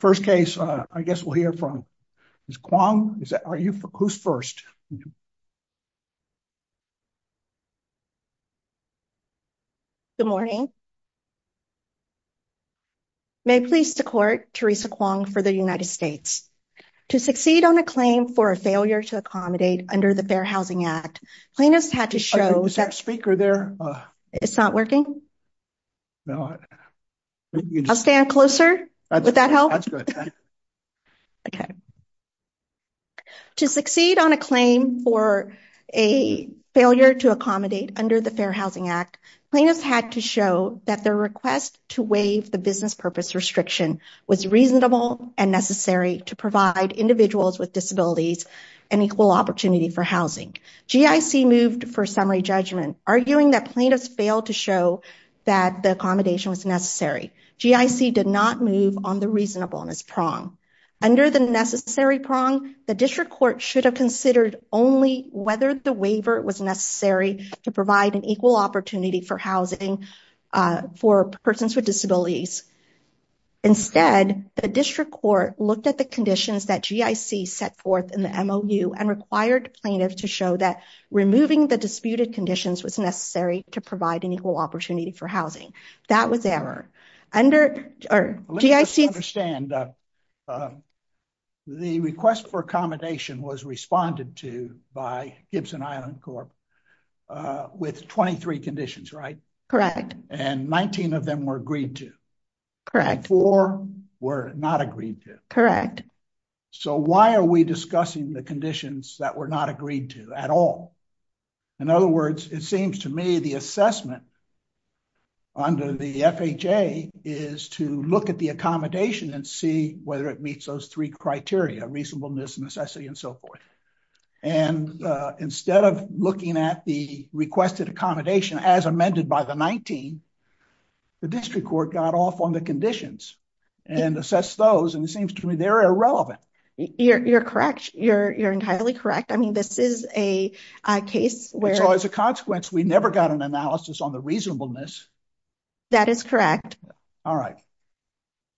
First case, I guess we'll hear from Ms. Kwong. Are you, who's first? Good morning. May I please support Teresa Kwong for the United States. To succeed on a claim for a failure to accommodate under the Fair Housing Act, plaintiffs had to show- Oh, is that speaker there? It's not working? No. I'll stand closer, would that help? That's good. Okay. To succeed on a claim for a failure to accommodate under the Fair Housing Act, plaintiffs had to show that their request to waive the business purpose restriction was reasonable and necessary to provide individuals with disabilities an equal opportunity for housing. GIC moved for summary judgment, arguing that plaintiffs failed to show that the accommodation was necessary. GIC did not move on the reasonableness prong. Under the necessary prong, the district court should have considered only whether the waiver was necessary to provide an equal opportunity for housing for persons with disabilities. Instead, the district court looked at the conditions that GIC set forth in the MOU and required plaintiffs to show that removing the disputed conditions was necessary to provide an equal opportunity for housing. That was error. Under GIC- Let me just understand, the request for accommodation was responded to by Gibson Island Corp with 23 conditions, right? Correct. And 19 of them were agreed to. Correct. And four were not agreed to. Correct. So why are we discussing the conditions that were not agreed to at all? In other words, it seems to me the assessment under the FHA is to look at the accommodation and see whether it meets those three criteria, reasonableness, necessity, and so forth. And instead of looking at the requested accommodation as amended by the 19, the district court got off on the conditions and assessed those. And it seems to me they're irrelevant. You're correct. You're entirely correct. I mean, this is a case where- It's always a consequence. We never got an analysis on the reasonableness. That is correct. All right.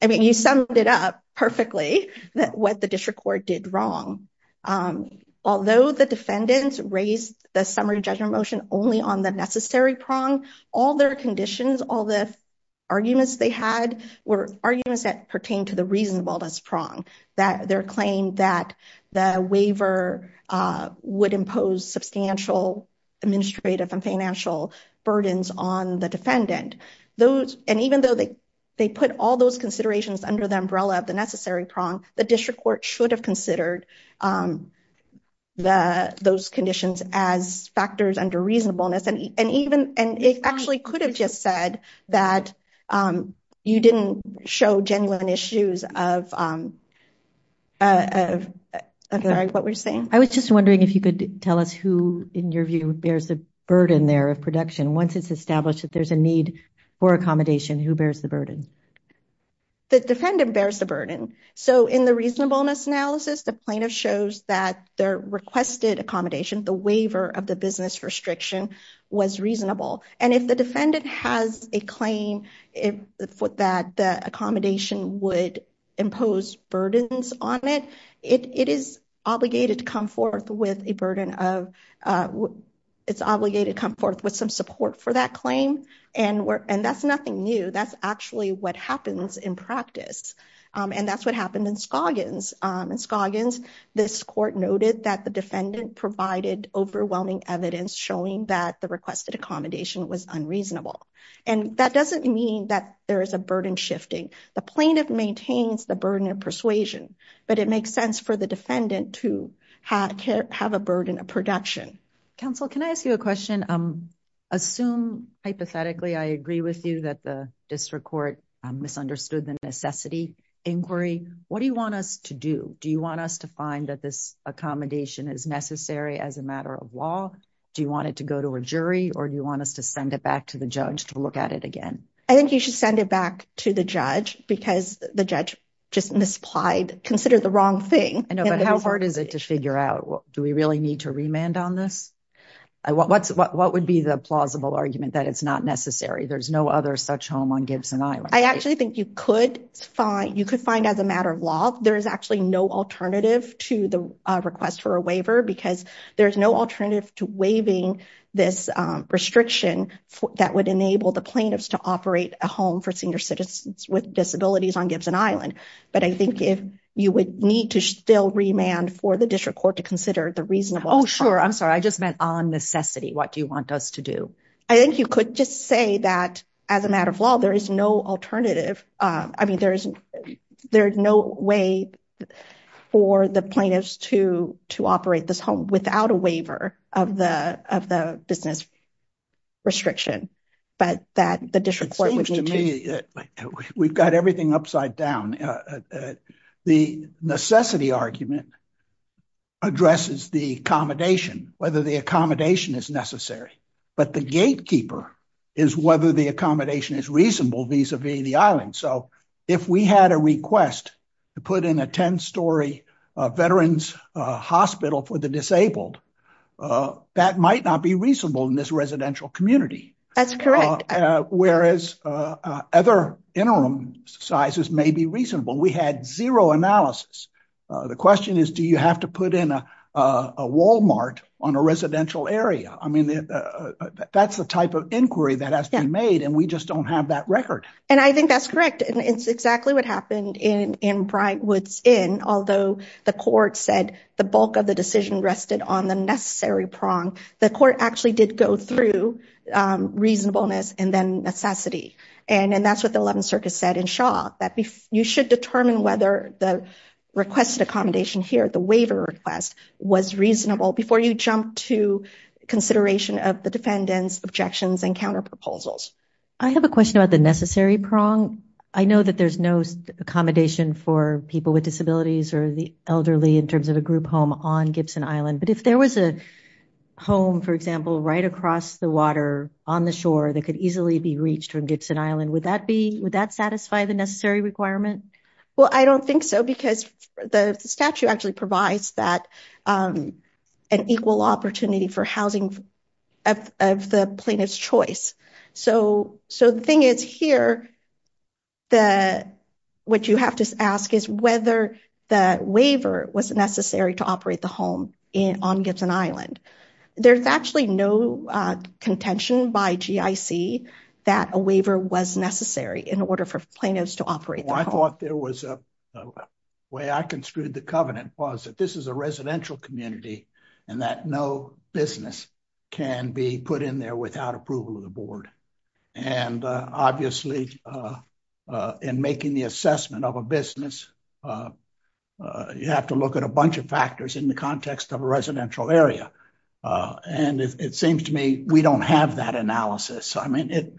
I mean, you summed it up perfectly that what the district court did wrong. Although the defendants raised the summary judgment motion only on the necessary prong, all their conditions, all the arguments they had were arguments that pertain to the reasonableness prong, that their claim that the waiver would impose substantial administrative and financial burdens on the defendant. And even though they put all those considerations under the umbrella of the necessary prong, the district court should have considered those conditions as factors under reasonableness. And it actually could have just said that you didn't show genuine issues of what we're saying. I was just wondering if you could tell us who in your view bears the burden there of production once it's established that there's a need for accommodation, who bears the burden? The defendant bears the burden. So in the reasonableness analysis, the plaintiff shows that their requested accommodation, the waiver of the business restriction was reasonable. And if the defendant has a claim that the accommodation would impose burdens on it, it is obligated to come forth with a burden of, it's obligated to come forth with some support for that claim. And that's nothing new. That's actually what happens in practice. And that's what happened in Scoggins. In Scoggins, this court noted that the defendant provided overwhelming evidence showing that the requested accommodation was unreasonable. And that doesn't mean that there is a burden shifting. The plaintiff maintains the burden of persuasion, but it makes sense for the defendant to have a burden of production. Counsel, can I ask you a question? Assume hypothetically, I agree with you that the district court misunderstood the necessity inquiry. What do you want us to do? Do you want us to find that this accommodation is necessary as a matter of law? Do you want it to go to a jury or do you want us to send it back to the judge to look at it again? I think you should send it back to the judge because the judge just misapplied, considered the wrong thing. I know, but how hard is it to figure out? Do we really need to remand on this? What would be the plausible argument that it's not necessary? There's no other such home on Gibson Island. I actually think you could find, you could find as a matter of law, there is actually no alternative to the request for a waiver because there's no alternative to waiving this restriction that would enable the plaintiffs to operate a home for senior citizens with disabilities on Gibson Island. But I think if you would need to still remand for the district court to consider the reasonable- Oh, sure. I'm sorry. I just meant on necessity. What do you want us to do? I think you could just say that as a matter of law, there is no alternative. I mean, there's no way for the plaintiffs to operate this home without a waiver of the business restriction, but that the district court would need to- It seems to me that we've got everything upside down. The necessity argument addresses the accommodation, whether the accommodation is necessary, but the gatekeeper is whether the accommodation is reasonable vis-a-vis the island. So if we had a request to put in a 10-story veterans hospital for the disabled, that might not be reasonable in this residential community. That's correct. Whereas other interim sizes may be reasonable. We had zero analysis. The question is, do you have to put in a Walmart on a residential area? I mean, that's the type of inquiry that has to be made, and we just don't have that record. And I think that's correct. And it's exactly what happened in Bryant Woods Inn, although the court said the bulk of the decision rested on the necessary prong, the court actually did go through reasonableness and then necessity. And that's what the 11th Circuit said in Shaw, that you should determine whether the requested accommodation here, the waiver request, was reasonable before you jump to consideration of the defendants' objections and counterproposals. I have a question about the necessary prong. I know that there's no accommodation for people with disabilities or the elderly in terms of a group home on Gibson Island, but if there was a home, for example, right across the water on the shore that could easily be reached from Gibson Island, would that satisfy the necessary requirement? Well, I don't think so because the statute actually provides that an equal opportunity for housing of the plaintiff's choice. So the thing is here, what you have to ask is whether the waiver was necessary to operate the home on Gibson Island. There's actually no contention by GIC that a waiver was necessary in order for plaintiffs to operate the home. Well, I thought there was a way I construed the covenant was that this is a residential community and that no business can be put in there without approval of the board. And obviously in making the assessment of a business, you have to look at a bunch of factors in the context of a residential area. And it seems to me we don't have that analysis. I mean,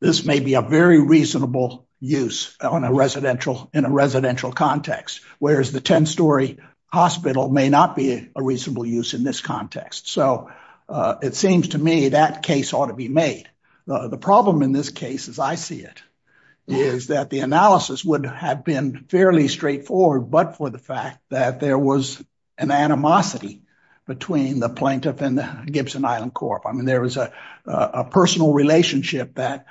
this may be a very reasonable use in a residential context, whereas the 10-story hospital may not be a reasonable use in this context. So it seems to me that case ought to be made. The problem in this case as I see it is that the analysis would have been fairly straightforward, but for the fact that there was an animosity between the plaintiff and the Gibson Island Corp. I mean, there was a personal relationship that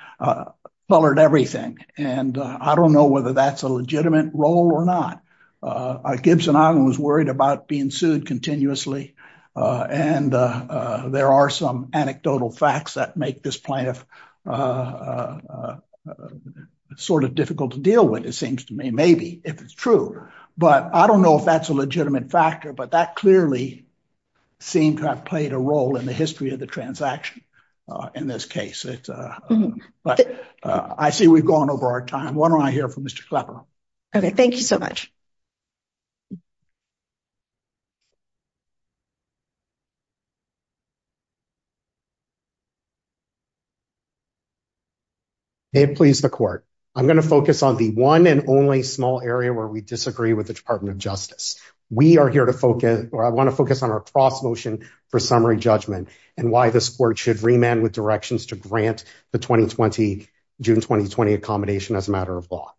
colored everything. And I don't know whether that's a legitimate role or not. Gibson Island was worried about being sued continuously. And there are some anecdotal facts that make this plaintiff sort of difficult to deal with, it seems to me, maybe if it's true. But I don't know if that's a legitimate factor, but that clearly seemed to have played a role in the history of the transaction in this case. But I see we've gone over our time. Why don't I hear from Mr. Clapper? Okay, thank you so much. I'm gonna focus on the one and only small area where we disagree with the Department of Justice. We are here to focus, or I wanna focus on our cross motion for summary judgment and why this court should remand with directions to grant the 2020, June 2020 accommodation as a matter of law.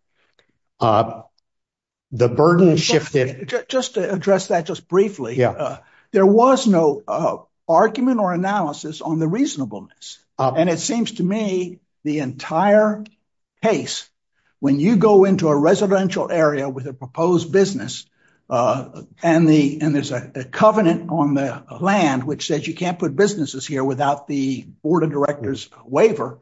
The burden shifted- Just to address that just briefly. The burden shifted from the 20th to the 20th of June. There was no argument or analysis on the reasonableness. And it seems to me the entire case, when you go into a residential area with a proposed business and there's a covenant on the land, which says you can't put businesses here without the board of directors waiver,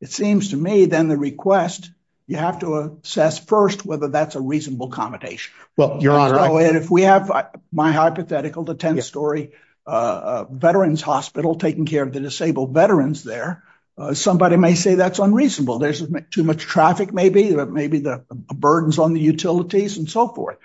it seems to me then the request, you have to assess first whether that's a reasonable accommodation. Well, Your Honor- If we have my hypothetical, the 10 story veterans hospital taking care of the disabled veterans there, somebody may say that's unreasonable. There's too much traffic maybe, maybe the burdens on the utilities and so forth.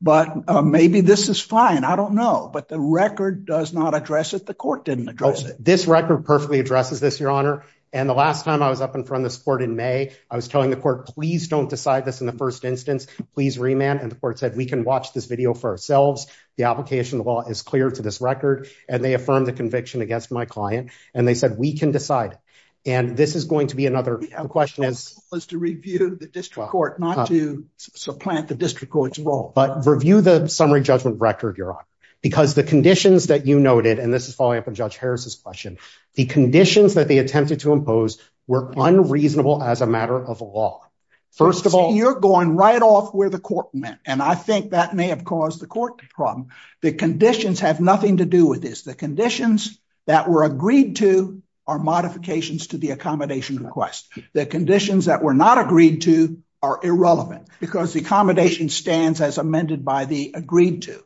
But maybe this is fine, I don't know. But the record does not address it, the court didn't address it. This record perfectly addresses this, Your Honor. And the last time I was up in front of this court in May, I was telling the court, please don't decide this in the first instance, please remand. And the court said, we can watch this video for ourselves. The application of the law is clear to this record. And they affirmed the conviction against my client. And they said, we can decide. And this is going to be another question- We have to review the district court, not to supplant the district court's role. But review the summary judgment record, Your Honor. Because the conditions that you noted, and this is following up on Judge Harris's question, the conditions that they attempted to impose were unreasonable as a matter of law. First of all- We're going right off where the court meant. And I think that may have caused the court problem. The conditions have nothing to do with this. The conditions that were agreed to are modifications to the accommodation request. The conditions that were not agreed to are irrelevant, because the accommodation stands as amended by the agreed to.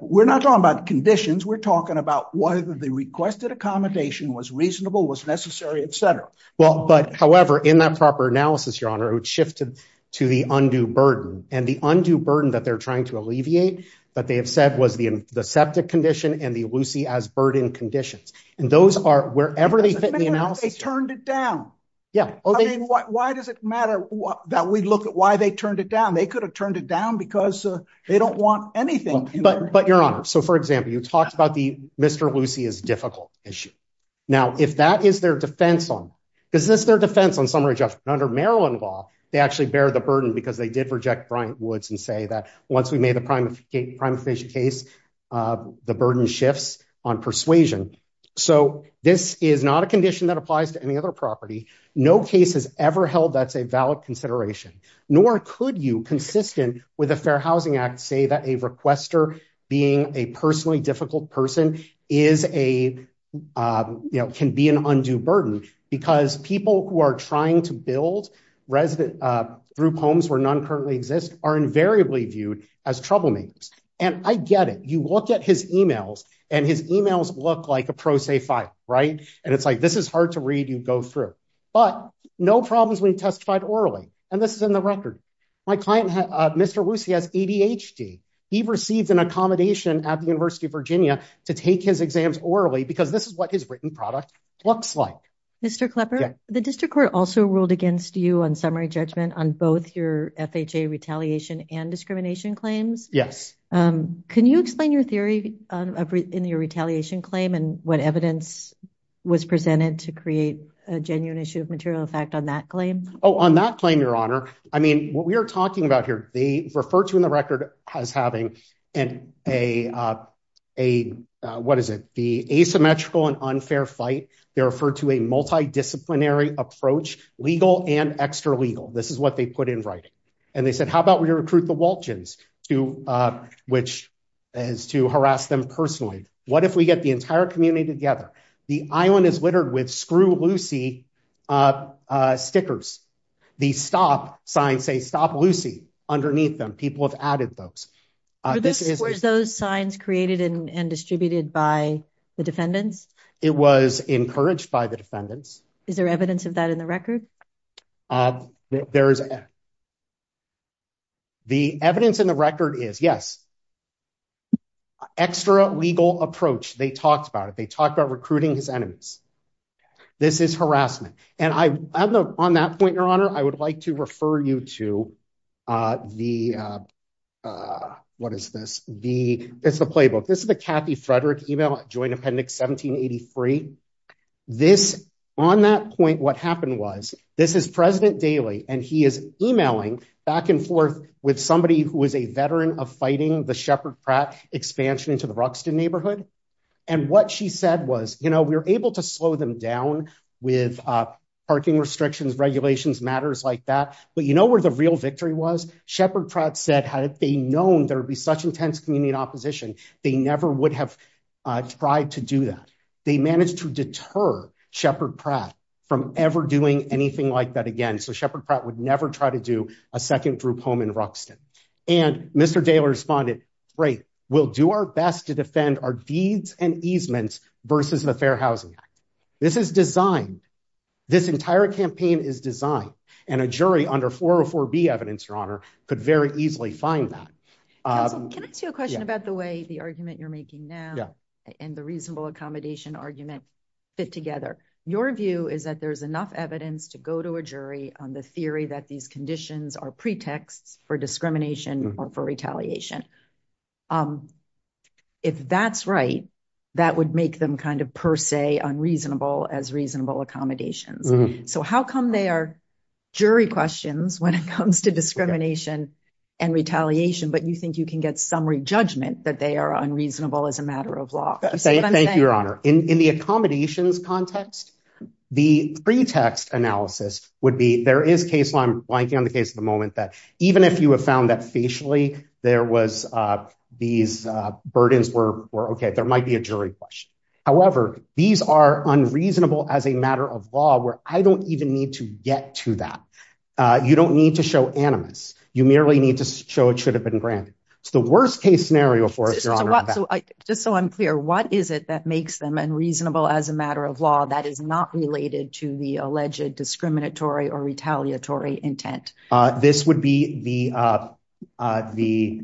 We're not talking about conditions, we're talking about whether the requested accommodation was reasonable, was necessary, et cetera. Well, but however, in that proper analysis, Your Honor, it shifted to the undue burden. And the undue burden that they're trying to alleviate, that they have said was the septic condition and the Lucy as burden conditions. And those are, wherever they fit in the analysis- They turned it down. Yeah. Why does it matter that we look at why they turned it down? They could have turned it down because they don't want anything- But Your Honor, so for example, you talked about the Mr. Lucy is difficult issue. Now, if that is their defense on, is this their defense on summary judgment? And under Maryland law, they actually bear the burden because they did reject Bryant Woods and say that once we made the prime case, the burden shifts on persuasion. So this is not a condition that applies to any other property. No case has ever held that's a valid consideration, nor could you consistent with the Fair Housing Act say that a requester being a personally difficult person can be an undue burden, because people who are trying to build through homes where none currently exist are invariably viewed as troublemakers. And I get it. You look at his emails and his emails look like a pro se file, right? And it's like, this is hard to read, you go through. But no problems when you testified orally. And this is in the record. My client, Mr. Lucy has ADHD. He received an accommodation at the University of Virginia to take his exams orally because this is what his written product looks like. Mr. Klepper, the district court also ruled against you on summary judgment on both your FHA retaliation and discrimination claims. Yes. Can you explain your theory in your retaliation claim and what evidence was presented to create a genuine issue of material effect on that claim? Oh, on that claim, your honor, I mean, what we are talking about here, they refer to in the record as having a, what is it? The asymmetrical and unfair fight. They're referred to a multidisciplinary approach, legal and extra legal. This is what they put in writing. And they said, how about we recruit the Waltjens which is to harass them personally? What if we get the entire community together? The island is littered with screw Lucy stickers. The stop signs say stop Lucy underneath them. People have added those. Were those signs created and distributed by the defendants? It was encouraged by the defendants. Is there evidence of that in the record? The evidence in the record is yes. Extra legal approach. They talked about it. They talked about recruiting his enemies. This is harassment. And on that point, your honor, I would like to refer you to the, what is this? It's the playbook. This is the Kathy Frederick email joint appendix 1783. This, on that point, what happened was, this is President Daley, and he is emailing back and forth with somebody who is a veteran of fighting the Shepard Pratt expansion into the Rockston neighborhood. And what she said was, we're able to slow them down with parking restrictions, regulations, matters like that. But you know where the real victory was? Shepard Pratt said, had they known there'd be such intense community opposition, they never would have tried to do that. They managed to deter Shepard Pratt from ever doing anything like that again. So Shepard Pratt would never try to do a second group home in Rockston. And Mr. Daley responded, great, we'll do our best to defend our deeds and easements versus the Fair Housing Act. This is designed. This entire campaign is designed. And a jury under 404B evidence, Your Honor, could very easily find that. Can I ask you a question about the way the argument you're making now and the reasonable accommodation argument fit together? Your view is that there's enough evidence to go to a jury on the theory that these conditions are pretexts for discrimination or for retaliation. If that's right, that would make them kind of per se unreasonable as reasonable accommodations. So how come they are jury questions when it comes to discrimination and retaliation, but you think you can get summary judgment that they are unreasonable as a matter of law? You see what I'm saying? Thank you, Your Honor. In the accommodations context, the pretext analysis would be, there is case law, I'm blanking on the case at the moment, that even if you have found that facially there was these burdens were okay, there might be a jury question. However, these are unreasonable as a matter of law where I don't even need to get to that. You don't need to show animus. You merely need to show it should have been granted. It's the worst case scenario for us, Your Honor. Just so I'm clear, what is it that makes them unreasonable as a matter of law that is not related to the alleged discriminatory or retaliatory intent? This would be the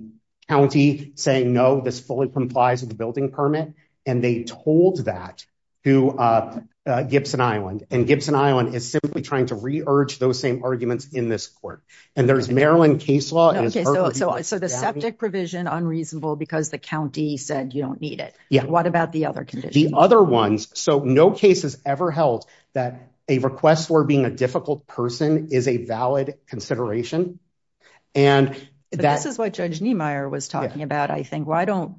county saying, no, this fully complies with the building permit. And they told that to Gibson Island and Gibson Island is simply trying to re-urge those same arguments in this court. And there's Maryland case law. So the septic provision unreasonable because the county said you don't need it. What about the other conditions? The other ones. So no case has ever held that a request for being a difficult person is a valid consideration. And that- This is what Judge Niemeyer was talking about. I think, well, I don't,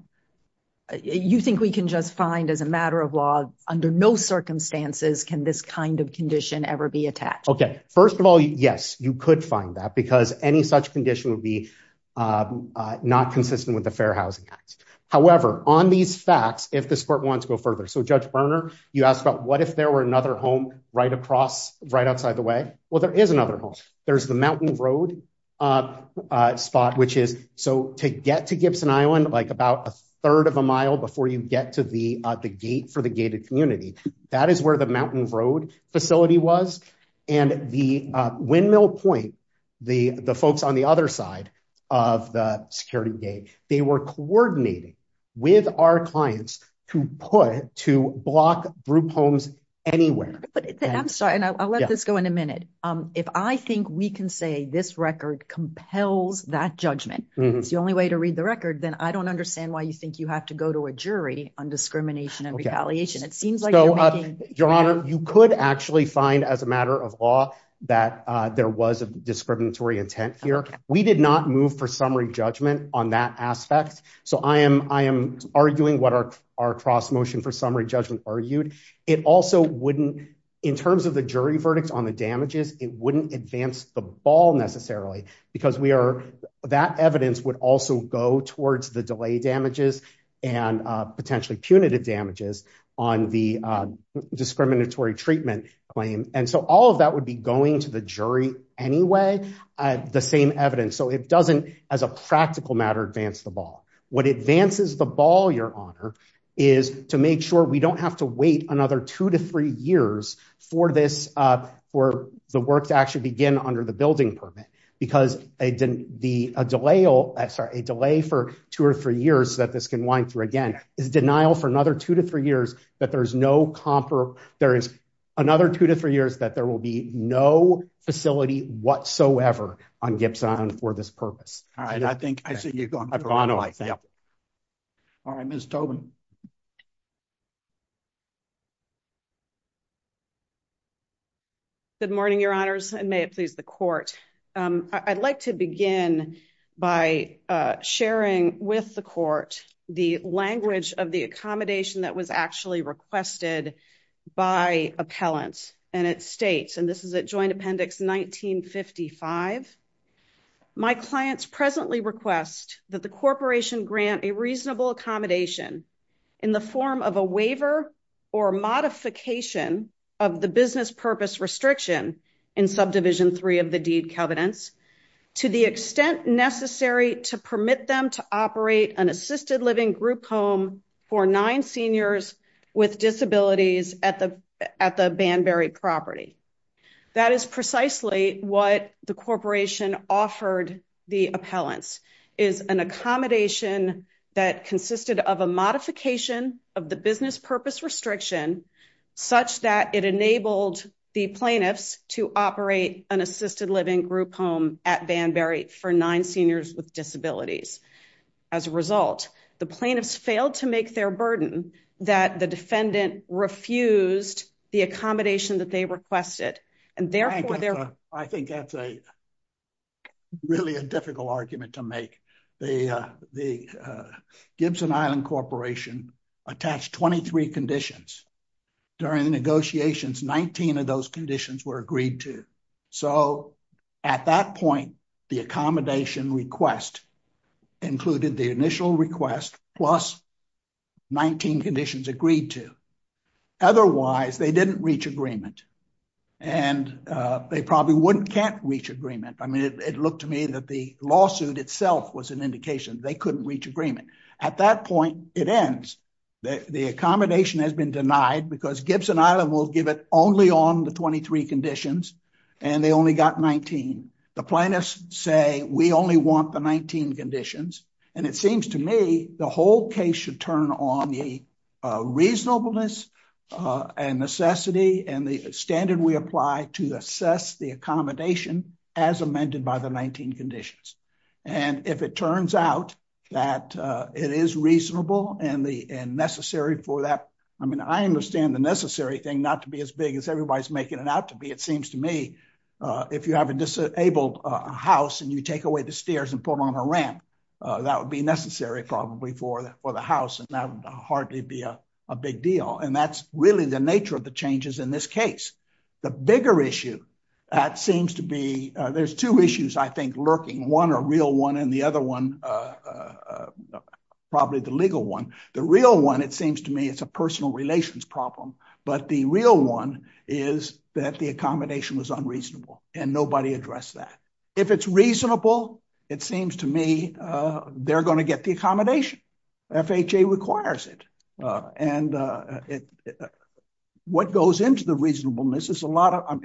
you think we can just find as a matter of law under no circumstances can this kind of condition ever be attached? Okay, first of all, yes, you could find that because any such condition would be not consistent with the Fair Housing Act. However, on these facts, if this court wants to go further, so Judge Berner, you asked about what if there were another home right across, right outside the way? Well, there is another home. There's the Mountain Road spot, which is, so to get to Gibson Island, like about a third of a mile before you get to the gate for the gated community, that is where the Mountain Road facility was. And the Windmill Point, the folks on the other side of the security gate, they were coordinating with our clients to put, to block group homes anywhere. But I'm sorry, and I'll let this go in a minute. If I think we can say this record compels that judgment, it's the only way to read the record, then I don't understand why you think you have to go to a jury on discrimination and retaliation. It seems like you're making- Your Honor, you could actually find as a matter of law that there was a discriminatory intent here. We did not move for summary judgment on that aspect. So I am arguing what our cross motion for summary judgment argued. It also wouldn't, in terms of the jury verdicts it wouldn't advance the ball necessarily because that evidence would also go towards the delay damages and potentially punitive damages on the discriminatory treatment claim. And so all of that would be going to the jury anyway, the same evidence. So it doesn't, as a practical matter, advance the ball. What advances the ball, Your Honor, is to make sure we don't have to wait another two to three years for this, for the work to actually begin under the building permit because a delay for two or three years that this can wind through again is denial for another two to three years that there's no compro, there is another two to three years that there will be no facility whatsoever on Gibson Island for this purpose. All right, I think I see you going- I've gone away, thank you. All right, Ms. Tobin. Good morning, Your Honors, and may it please the court. I'd like to begin by sharing with the court the language of the accommodation that was actually requested by appellants and its states. And this is at Joint Appendix 1955. My clients presently request that the corporation grant a reasonable accommodation in the form of a waiver or a multi-year term for a modification of the business purpose restriction in subdivision three of the deed covenants to the extent necessary to permit them to operate an assisted living group home for nine seniors with disabilities at the Banbury property. That is precisely what the corporation offered the appellants, is an accommodation that consisted of a modification of the business purpose restriction such that it enabled the plaintiffs to operate an assisted living group home at Banbury for nine seniors with disabilities. As a result, the plaintiffs failed to make their burden that the defendant refused the accommodation that they requested, and therefore- I think that's really a difficult argument to make. The Gibson Island Corporation attached 23 conditions during the negotiations, 19 of those conditions were agreed to. So at that point, the accommodation request included the initial request plus 19 conditions agreed to. Otherwise they didn't reach agreement and they probably wouldn't can't reach agreement. I mean, it looked to me that the lawsuit itself was an indication they couldn't reach agreement. At that point, it ends. The accommodation has been denied because Gibson Island will give it only on the 23 conditions and they only got 19. The plaintiffs say, we only want the 19 conditions. And it seems to me the whole case should turn on the reasonableness and necessity and the standard we apply to assess the accommodation as amended by the 19 conditions. And if it turns out that it is reasonable and necessary for that, I mean, I understand the necessary thing not to be as big as everybody's making it out to be. It seems to me if you have a disabled house and you take away the stairs and put on a ramp, that would be necessary probably for the house and that would hardly be a big deal. And that's really the nature of the changes in this case. The bigger issue that seems to be, there's two issues I think lurking. One a real one and the other one, probably the legal one. The real one, it seems to me, it's a personal relations problem, but the real one is that the accommodation was unreasonable and nobody addressed that. If it's reasonable, it seems to me they're gonna get the accommodation. FHA requires it. And what goes into the reasonableness is a lot of,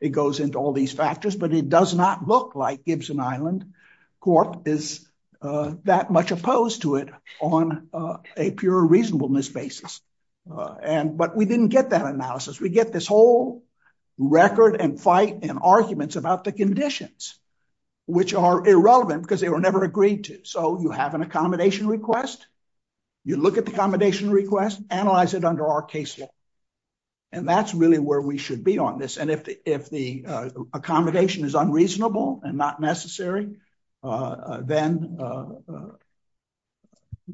it goes into all these factors, but it does not look like Gibson Island Court is that much opposed to it on a pure reasonableness basis. But we didn't get that analysis. We get this whole record and fight and arguments about the conditions, which are irrelevant because they were never agreed to. So you have an accommodation request, you look at the accommodation request, analyze it under our case law. And that's really where we should be on this. And if the accommodation is unreasonable and not necessary, then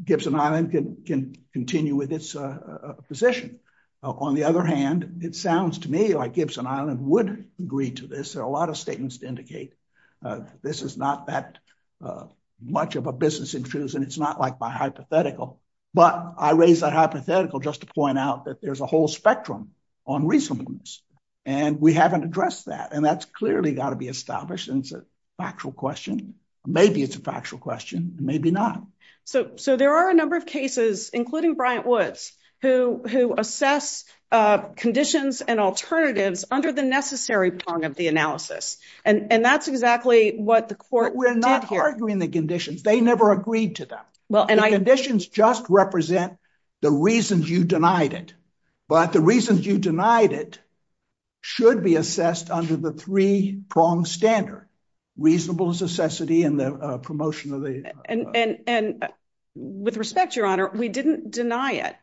Gibson Island can continue with its position. On the other hand, it sounds to me like Gibson Island would agree to this. There are a lot of statements to indicate this is not that much of a business intrusion. It's not like my hypothetical, but I raised that hypothetical just to point out that there's a whole spectrum on reasonableness. And we haven't addressed that. And that's clearly gotta be established and it's a factual question. Maybe it's a factual question, maybe not. So there are a number of cases, including Bryant Woods, who assess conditions and alternatives under the necessary prong of the analysis. And that's exactly what the court did here. We're not arguing the conditions. They never agreed to them. Well, and I- The conditions just represent the reasons you denied it. But the reasons you denied it should be assessed under the three prong standard, reasonable necessity and the promotion of the- And with respect, Your Honor, we didn't deny it.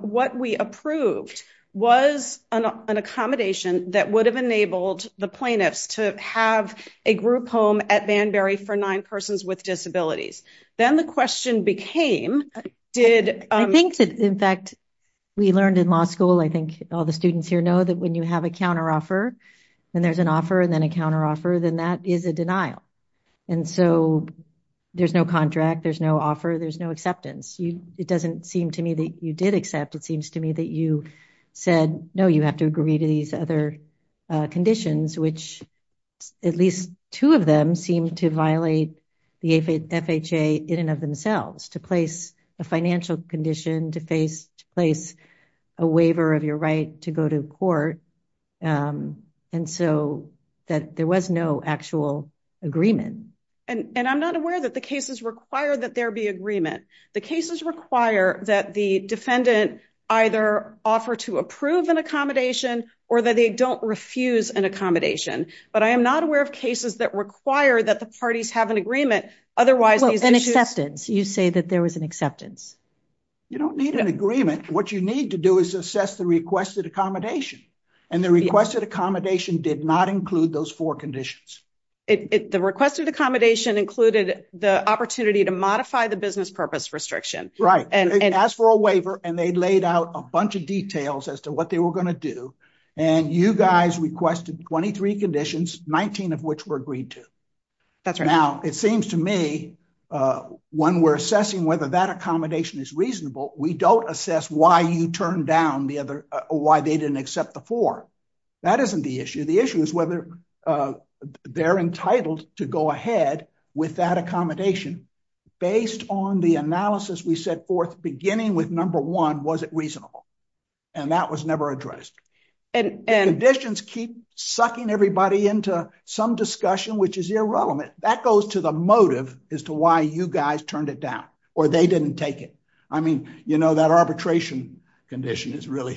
What we approved was an accommodation that would have enabled the plaintiffs to have a group home at Banbury for nine persons with disabilities. Then the question became, did- In fact, we learned in law school, I think all the students here know that when you have a counteroffer, and there's an offer and then a counteroffer, then that is a denial. And so there's no contract, there's no offer, there's no acceptance. It doesn't seem to me that you did accept. It seems to me that you said, no, you have to agree to these other conditions, which at least two of them seem to violate the FHA in and of themselves to place a financial condition, to place a waiver of your right to go to court. And so that there was no actual agreement. And I'm not aware that the cases require that there be agreement. The cases require that the defendant either offer to approve an accommodation or that they don't refuse an accommodation. But I am not aware of cases that require that the parties have an agreement, otherwise these issues- I didn't say that there was an acceptance. You don't need an agreement. What you need to do is assess the requested accommodation. And the requested accommodation did not include those four conditions. The requested accommodation included the opportunity to modify the business purpose restriction. Right, they asked for a waiver and they laid out a bunch of details as to what they were gonna do. And you guys requested 23 conditions, 19 of which were agreed to. That's right. Now, it seems to me when we're assessing whether that accommodation is reasonable, we don't assess why you turned down the other, why they didn't accept the four. That isn't the issue. The issue is whether they're entitled to go ahead with that accommodation based on the analysis we set forth beginning with number one, was it reasonable? And that was never addressed. And conditions keep sucking everybody into some discussion, which is irrelevant. That goes to the motive as to why you guys turned it down or they didn't take it. I mean, that arbitration condition is really,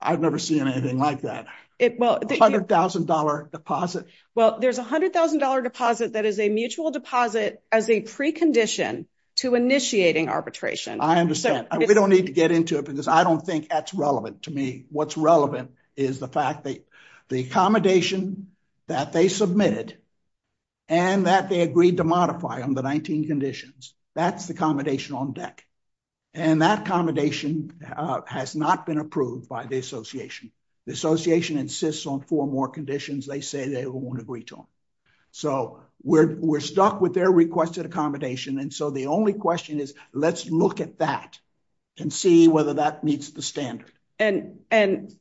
I've never seen anything like that. $100,000 deposit. Well, there's $100,000 deposit that is a mutual deposit as a precondition to initiating arbitration. I understand. We don't need to get into it because I don't think that's relevant to me. What's relevant is the fact that the accommodation that they submitted and that they agreed to modify on the 19 conditions, that's the accommodation on deck. And that accommodation has not been approved by the association. The association insists on four more conditions. They say they won't agree to them. So we're stuck with their requested accommodation. And so the only question is let's look at that and see whether that meets the standard. And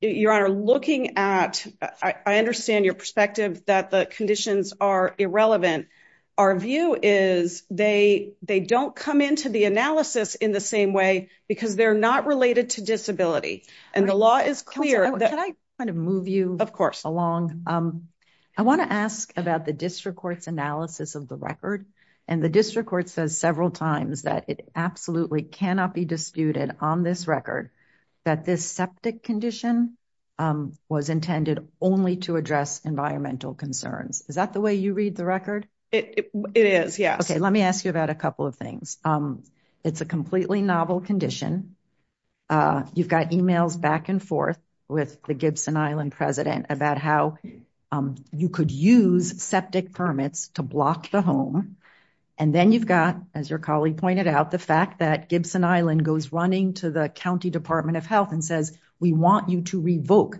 Your Honor, looking at, I understand your perspective that the conditions are irrelevant. Our view is they don't come into the analysis in the same way because they're not related to disability. And the law is clear that- Can I kind of move you- Of course. Along. I wanna ask about the district court's analysis of the record. And the district court says several times that it absolutely cannot be disputed on this record that this septic condition was intended only to address environmental concerns. Is that the way you read the record? It is, yes. Okay, let me ask you about a couple of things. It's a completely novel condition. You've got emails back and forth with the Gibson Island president about how you could use septic permits to block the home. And then you've got, as your colleague pointed out, the fact that Gibson Island goes running to the County Department of Health and says, we want you to revoke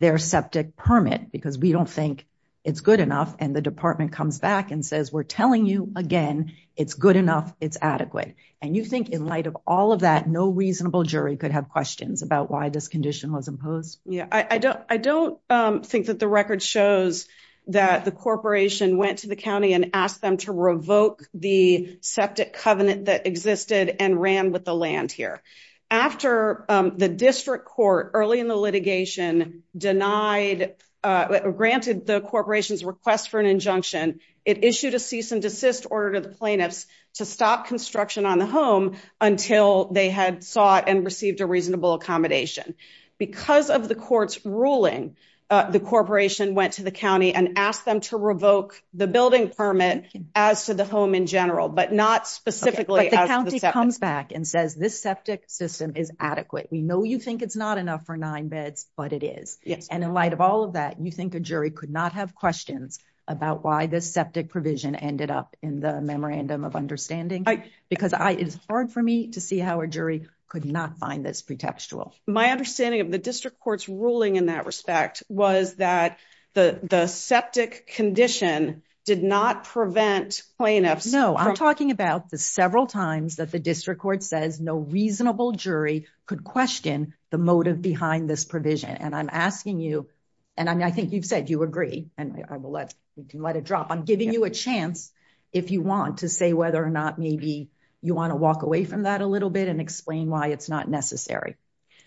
their septic permit because we don't think it's good enough. And the department comes back and says, we're telling you again, it's good enough, it's adequate. And you think in light of all of that, no reasonable jury could have questions about why this condition was imposed? Yeah, I don't think that the record shows that the corporation went to the county and asked them to revoke the septic covenant that existed and ran with the land here. After the district court early in the litigation denied, granted the corporation's request for an injunction, it issued a cease and desist order to the plaintiffs to stop construction on the home until they had sought and received a reasonable accommodation. Because of the court's ruling, the corporation went to the county and asked them to revoke the building permit as to the home in general, but not specifically as to the septic. But the county comes back and says, this septic system is adequate. We know you think it's not enough for nine beds, but it is. And in light of all of that, you think a jury could not have questions about why this septic provision ended up in the memorandum of understanding? Because it's hard for me to see how a jury could not find this pretextual. My understanding of the district court's ruling in that respect was that the septic condition did not prevent plaintiffs- No, I'm talking about the several times that the district court says no reasonable jury could question the motive behind this provision. And I'm asking you, and I think you've said you agree, and I will let it drop. I'm giving you a chance if you want to say whether or not maybe you wanna walk away from that a little bit and explain why it's not necessary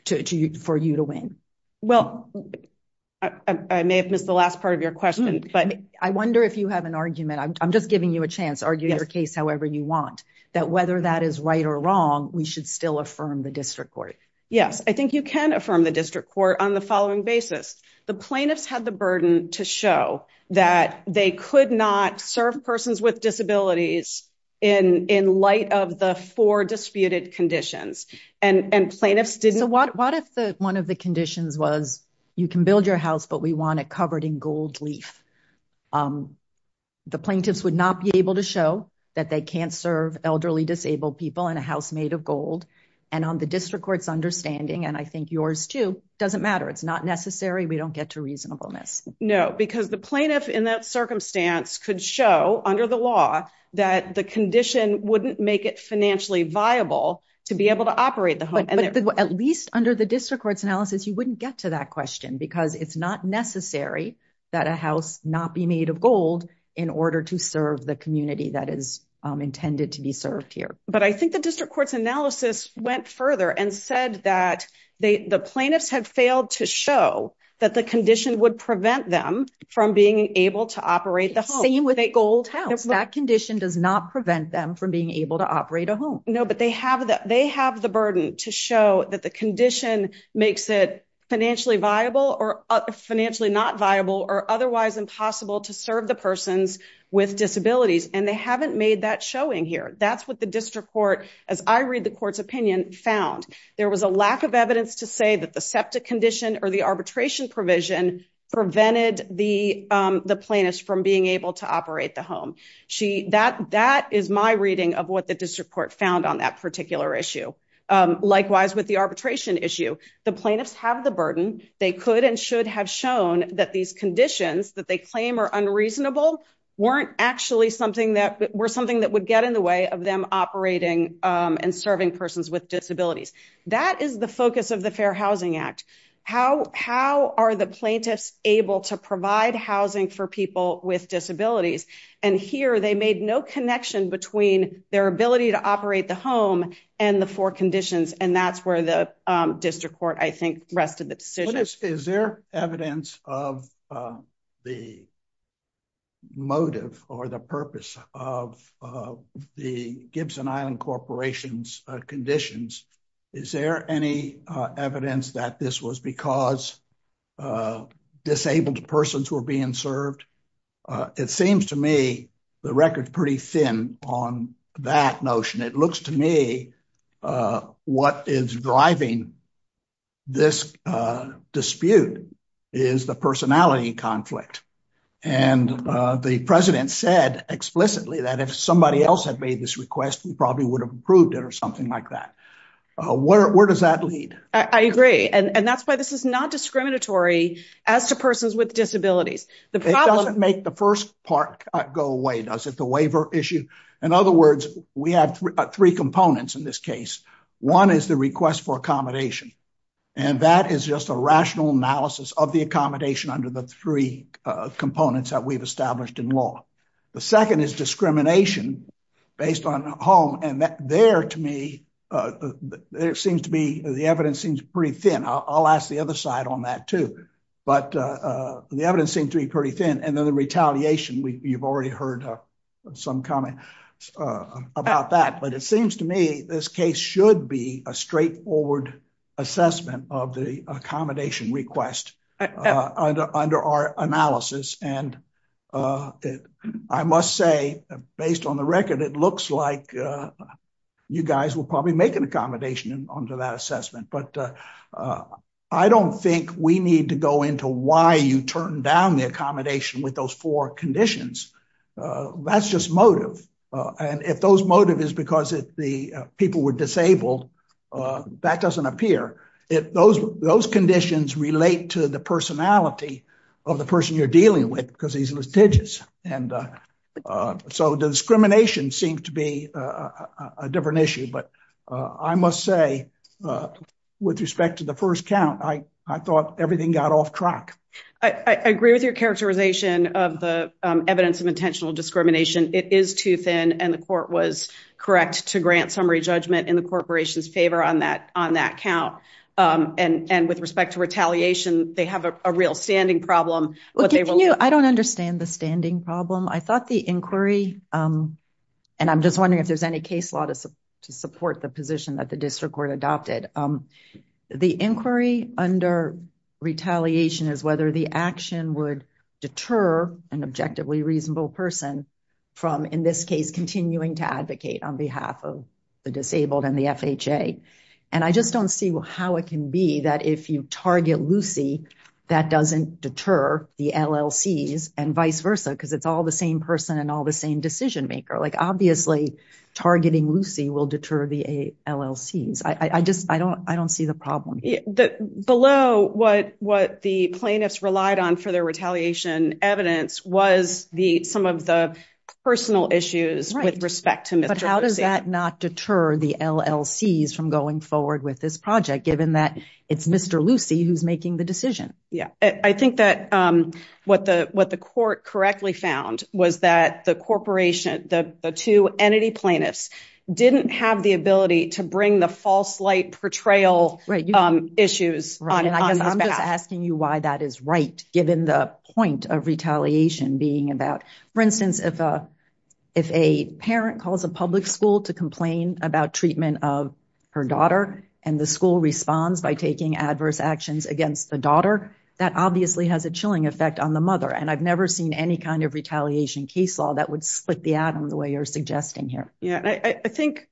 for you to win. Well, I may have missed the last part of your question, but- I wonder if you have an argument, I'm just giving you a chance, argue your case however you want, that whether that is right or wrong, we should still affirm the district court. Yes, I think you can affirm the district court on the following basis. The plaintiffs had the burden to show that they could not serve persons with disabilities in light of the four disputed conditions. And plaintiffs didn't- So what if one of the conditions was, you can build your house, but we want it covered in gold leaf? The plaintiffs would not be able to show that they can't serve elderly disabled people in a house made of gold. And on the district court's understanding, and I think yours too, doesn't matter. It's not necessary, we don't get to reasonableness. No, because the plaintiff in that circumstance could show under the law that the condition wouldn't make it financially viable to be able to operate the home. At least under the district court's analysis, you wouldn't get to that question because it's not necessary that a house not be made of gold in order to serve the community that is intended to be served here. But I think the district court's analysis went further and said that the plaintiffs had failed to show that the condition would prevent them from being able to operate the home. Same with a gold house, that condition does not prevent them from being able to operate a home. No, but they have the burden to show that the condition makes it financially viable or financially not viable or otherwise impossible to serve the persons with disabilities. And they haven't made that showing here. That's what the district court, as I read the court's opinion, found. There was a lack of evidence to say that the septic condition or the arbitration provision prevented the plaintiffs from being able to operate the home. That is my reading of what the district court found on that particular issue. Likewise, with the arbitration issue, the plaintiffs have the burden. They could and should have shown that these conditions that they claim are unreasonable were something that would get in the way of them operating and serving persons with disabilities. That is the focus of the Fair Housing Act. How are the plaintiffs able to provide housing for people with disabilities? And here they made no connection between their ability to operate the home and the four conditions. And that's where the district court, I think, rested the decision. Is there evidence of the motive or the purpose of the Gibson Island Corporation's conditions? Is there any evidence that this was because disabled persons were being served? It seems to me the record's pretty thin on that notion. It looks to me what is driving this dispute is the personality conflict. And the president said explicitly that if somebody else had made this request, we probably would have approved it or something like that. Where does that lead? I agree. And that's why this is not discriminatory as to persons with disabilities. It doesn't make the first part go away, does it? The waiver issue. In other words, we have three components in this case. One is the request for accommodation. And that is just a rational analysis of the accommodation under the three components that we've established in law. The second is discrimination based on home. And there, to me, the evidence seems pretty thin. I'll ask the other side on that too. But the evidence seems to be pretty thin. And then the retaliation, you've already heard some comments about that. But it seems to me this case should be a straightforward assessment of the accommodation request under our analysis. And I must say, based on the record, it looks like you guys will probably make an accommodation under that assessment. But I don't think we need to go into why you turn down the accommodation with those four conditions. That's just motive. And if those motive is because the people were disabled, that doesn't appear. Those conditions relate to the personality of the person you're dealing with because he's litigious. And so discrimination seems to be a different issue. But I must say, with respect to the first count, I thought everything got off track. I agree with your characterization of the evidence of intentional discrimination. It is too thin. And the court was correct to grant summary judgment in the corporation's favor on that count. And with respect to retaliation, they have a real standing problem. I don't understand the standing problem. I thought the inquiry, and I'm just wondering if there's any case law to support the position that the district court adopted. The inquiry under retaliation is whether the action would deter an objectively reasonable person from, in this case, continuing to advocate on behalf of the disabled and the FHA. And I just don't see how it can be that if you target Lucy, that doesn't deter the LLCs and vice versa because it's all the same person and all the same decision maker. Obviously, targeting Lucy will deter the LLCs. I don't see the problem. Below what the plaintiffs relied on for their retaliation evidence was some of the personal issues with respect to Mr. Lucy. But how does that not deter the LLCs from going forward with this project, given that it's Mr. Lucy who's making the decision? I think that what the court correctly found was that the corporation, the two entity plaintiffs didn't have the ability to bring the false light portrayal issues on his behalf. I'm just asking you why that is right, given the point of retaliation being about, for instance, if a parent calls a public school to complain about treatment of her daughter and the school responds by taking adverse actions against the daughter, that obviously has a chilling effect on the mother. And I've never seen any kind of retaliation case law that would split the atom the way you're suggesting here. Yeah, I think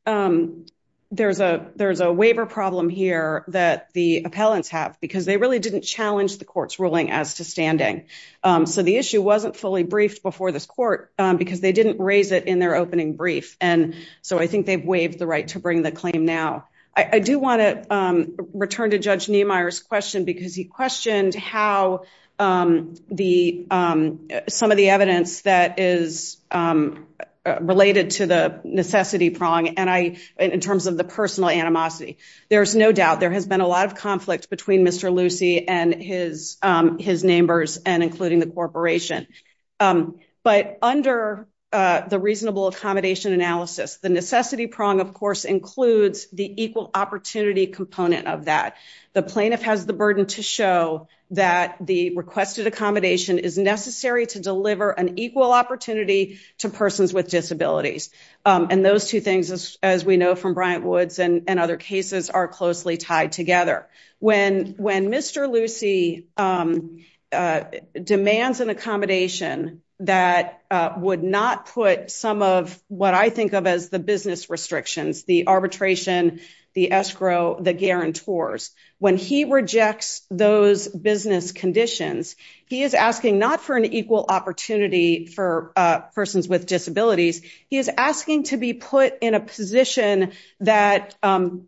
there's a waiver problem here that the appellants have because they really didn't challenge the court's ruling as to standing. So the issue wasn't fully briefed before this court because they didn't raise it in their opening brief. And so I think they've waived the right to bring the claim now. I do wanna return to Judge Niemeyer's question because he questioned how some of the evidence that is related to the necessity prong in terms of the personal animosity. There's no doubt there has been a lot of conflict between Mr. Lucey and his neighbors and including the corporation. But under the reasonable accommodation analysis, the necessity prong, of course, includes the equal opportunity component of that. The plaintiff has the burden to show that the requested accommodation is necessary to deliver an equal opportunity to persons with disabilities. And those two things, as we know from Bryant Woods and other cases are closely tied together. When Mr. Lucey demands an accommodation that would not put some of what I think of as the business restrictions, the arbitration, the escrow, the guarantors. When he rejects those business conditions, he is asking not for an equal opportunity for persons with disabilities. He is asking to be put in a position that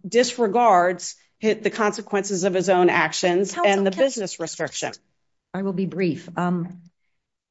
disregards the consequences of his own actions and the business restrictions. I will be brief.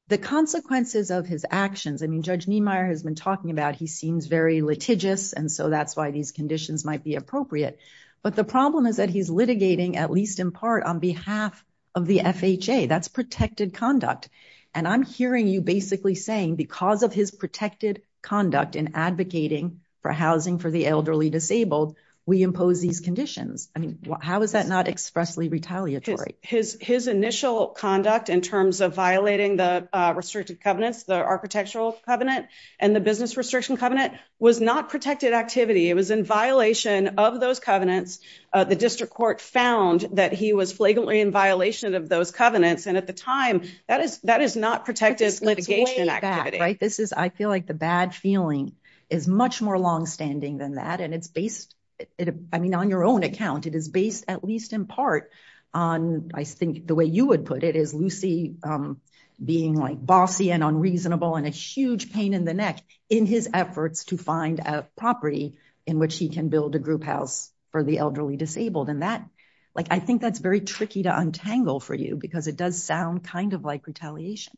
The consequences of his actions. I mean, Judge Niemeyer has been talking about he seems very litigious. And so that's why these conditions might be appropriate. But the problem is that he's litigating at least in part on behalf of the FHA. That's protected conduct. And I'm hearing you basically saying because of his protected conduct in advocating for housing for the elderly disabled, we impose these conditions. I mean, how is that not expressly retaliatory? His initial conduct in terms of violating the restricted covenants, the architectural covenant and the business restriction covenant was not protected activity. It was in violation of those covenants. The district court found that he was flagrantly in violation of those covenants. And at the time, that is not protected litigation activity. Right, this is, I feel like the bad feeling is much more longstanding than that. And it's based, I mean, on your own account, it is based at least in part on, I think the way you would put it is Lucy being like bossy and unreasonable and a huge pain in the neck in his efforts to find a property in which he can build a group house for the elderly disabled. And that, like, I think that's very tricky to untangle for you because it does sound kind of like retaliation.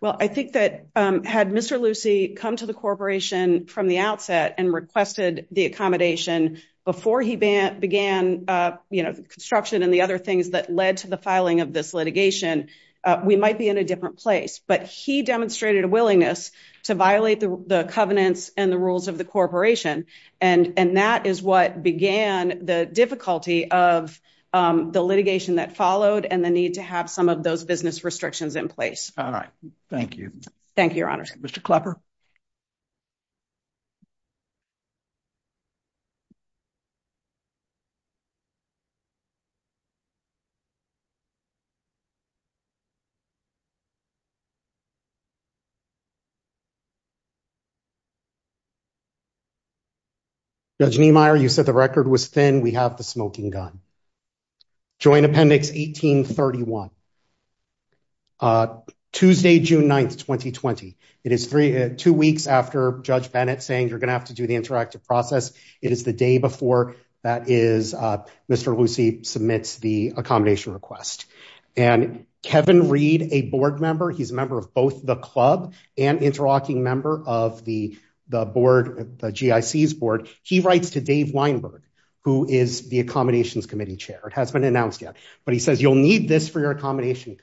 Well, I think that had Mr. Lucy come to the corporation from the outset and requested the accommodation before he began construction and the other things that led to the filing of this litigation, we might be in a different place. But he demonstrated a willingness to violate the covenants and the rules of the corporation. And that is what began the difficulty of the litigation that followed and the need to have some of those business restrictions in place. All right, thank you. Thank you, your honors. Mr. Klepper. Judge Niemeyer, you said the record was thin. We have the smoking gun. Joint Appendix 1831. Tuesday, June 9th, 2020. It is two weeks after Judge Bennett saying you're going to have to do the interactive process. It is the day before that is Mr. Lucy submits the accommodation request. And Kevin Reed, a board member, he's a member of both the club and interlocking member of the board, the GIC's board. He writes to Dave Weinberg, who is the accommodations committee chair. It hasn't been announced yet, but he says you'll need this for your accommodation.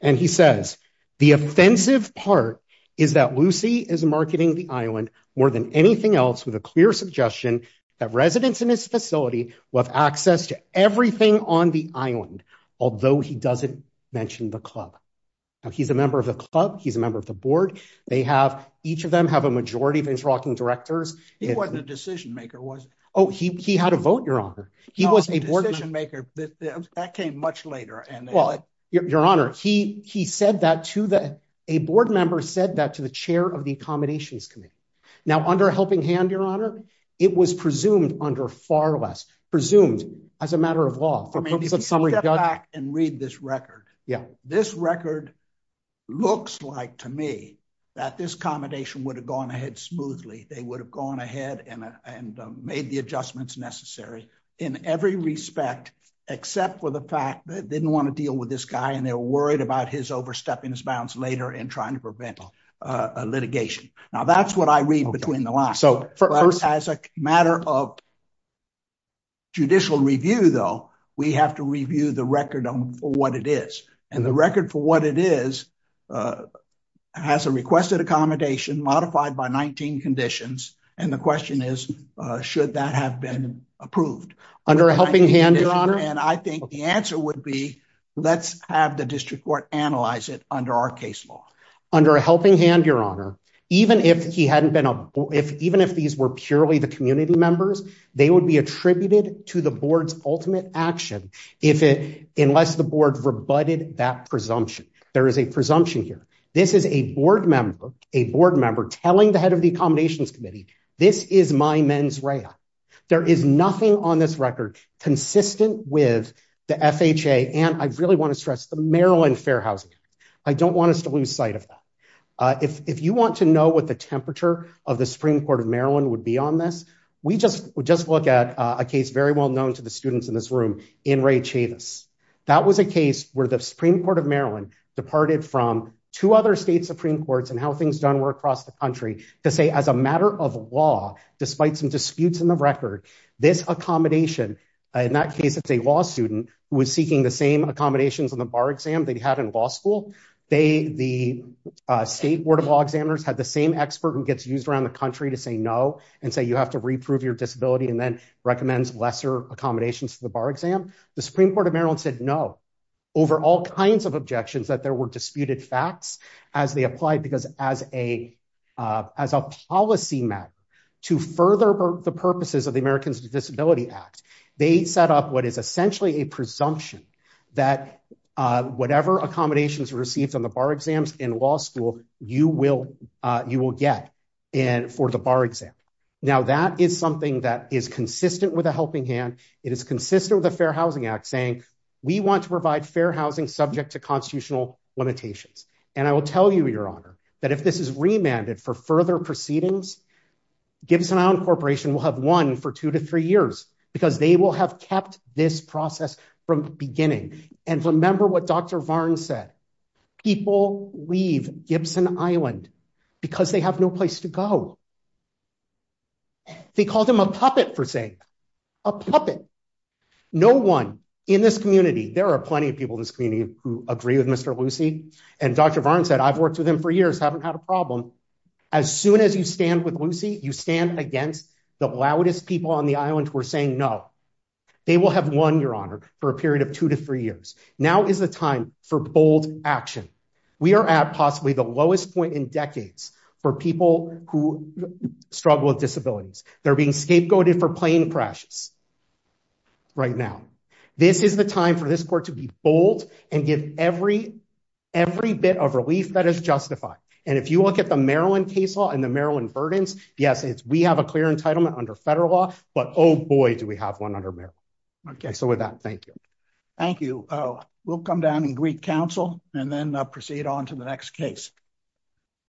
And he says the offensive part is that Lucy is marketing the island more than anything else with a clear suggestion that residents in his facility will have access to everything on the island, although he doesn't mention the club. He's a member of the club. He's a member of the board. They have, each of them, have a majority of interlocking directors. He wasn't a decision maker, was he? Oh, he had a vote, Your Honor. He was a decision maker. That came much later. Your Honor, he said that to the, a board member said that to the chair of the accommodations committee. Now, under a helping hand, Your Honor, it was presumed under far less, presumed as a matter of law. I mean, if you step back and read this record, this record looks like to me that this accommodation would have gone ahead smoothly. They would have gone ahead and made the adjustments necessary in every respect, except for the fact that they didn't want to deal with this guy and they were worried about his overstepping his bounds later and trying to prevent a litigation. Now, that's what I read between the lines. So as a matter of judicial review, though, we have to review the record for what it is. And the record for what it is has a requested accommodation modified by 19 conditions. And the question is, should that have been approved? Under a helping hand, Your Honor? And I think the answer would be, let's have the district court analyze it under our case law. Under a helping hand, Your Honor, even if he hadn't been, even if these were purely the community members, they would be attributed to the board's ultimate action unless the board rebutted that presumption. There is a presumption here. This is a board member telling the head of the accommodations committee, this is my mens rea. There is nothing on this record consistent with the FHA and I really want to stress the Maryland Fair Housing Act. I don't want us to lose sight of that. If you want to know what the temperature of the Supreme Court of Maryland would be on this, we just would just look at a case very well known to the students in this room in Ray Chavis. That was a case where the Supreme Court of Maryland departed from two other state Supreme Courts and how things done were across the country to say as a matter of law, despite some disputes in the record, this accommodation, in that case, it's a law student who was seeking the same accommodations on the bar exam they'd had in law school. They, the state board of law examiners had the same expert who gets used around the country to say no and say, you have to reprove your disability and then recommends lesser accommodations to the bar exam. The Supreme Court of Maryland said no over all kinds of objections that there were disputed facts as they applied, because as a policy map to further the purposes of the Americans with Disabilities Act, they set up what is essentially a presumption that whatever accommodations received on the bar exams in law school, you will get for the bar exam. Now, that is something that is consistent with a helping hand. It is consistent with the Fair Housing Act saying we want to provide fair housing subject to constitutional limitations. And I will tell you, Your Honor, that if this is remanded for further proceedings, Gibson Island Corporation will have won for two to three years because they will have kept this process from beginning. And remember what Dr. Varn said. People leave Gibson Island because they have no place to go. They called him a puppet for saying that. No one in this community, there are plenty of people in this community who agree with Mr. Lucey. And Dr. Varn said, I've worked with him for years, haven't had a problem. As soon as you stand with Lucey, you stand against the loudest people on the island who are saying no. They will have won, Your Honor, for a period of two to three years. Now is the time for bold action. We are at possibly the lowest point in decades for people who struggle with disabilities. They're being scapegoated for plane crashes right now. This is the time for this court to be bold and give every bit of relief that is justified. And if you look at the Maryland case law and the Maryland verdants, yes, we have a clear entitlement under federal law, but oh boy, do we have one under Maryland. Okay, so with that, thank you. Thank you. We'll come down and greet counsel and then proceed on to the next case.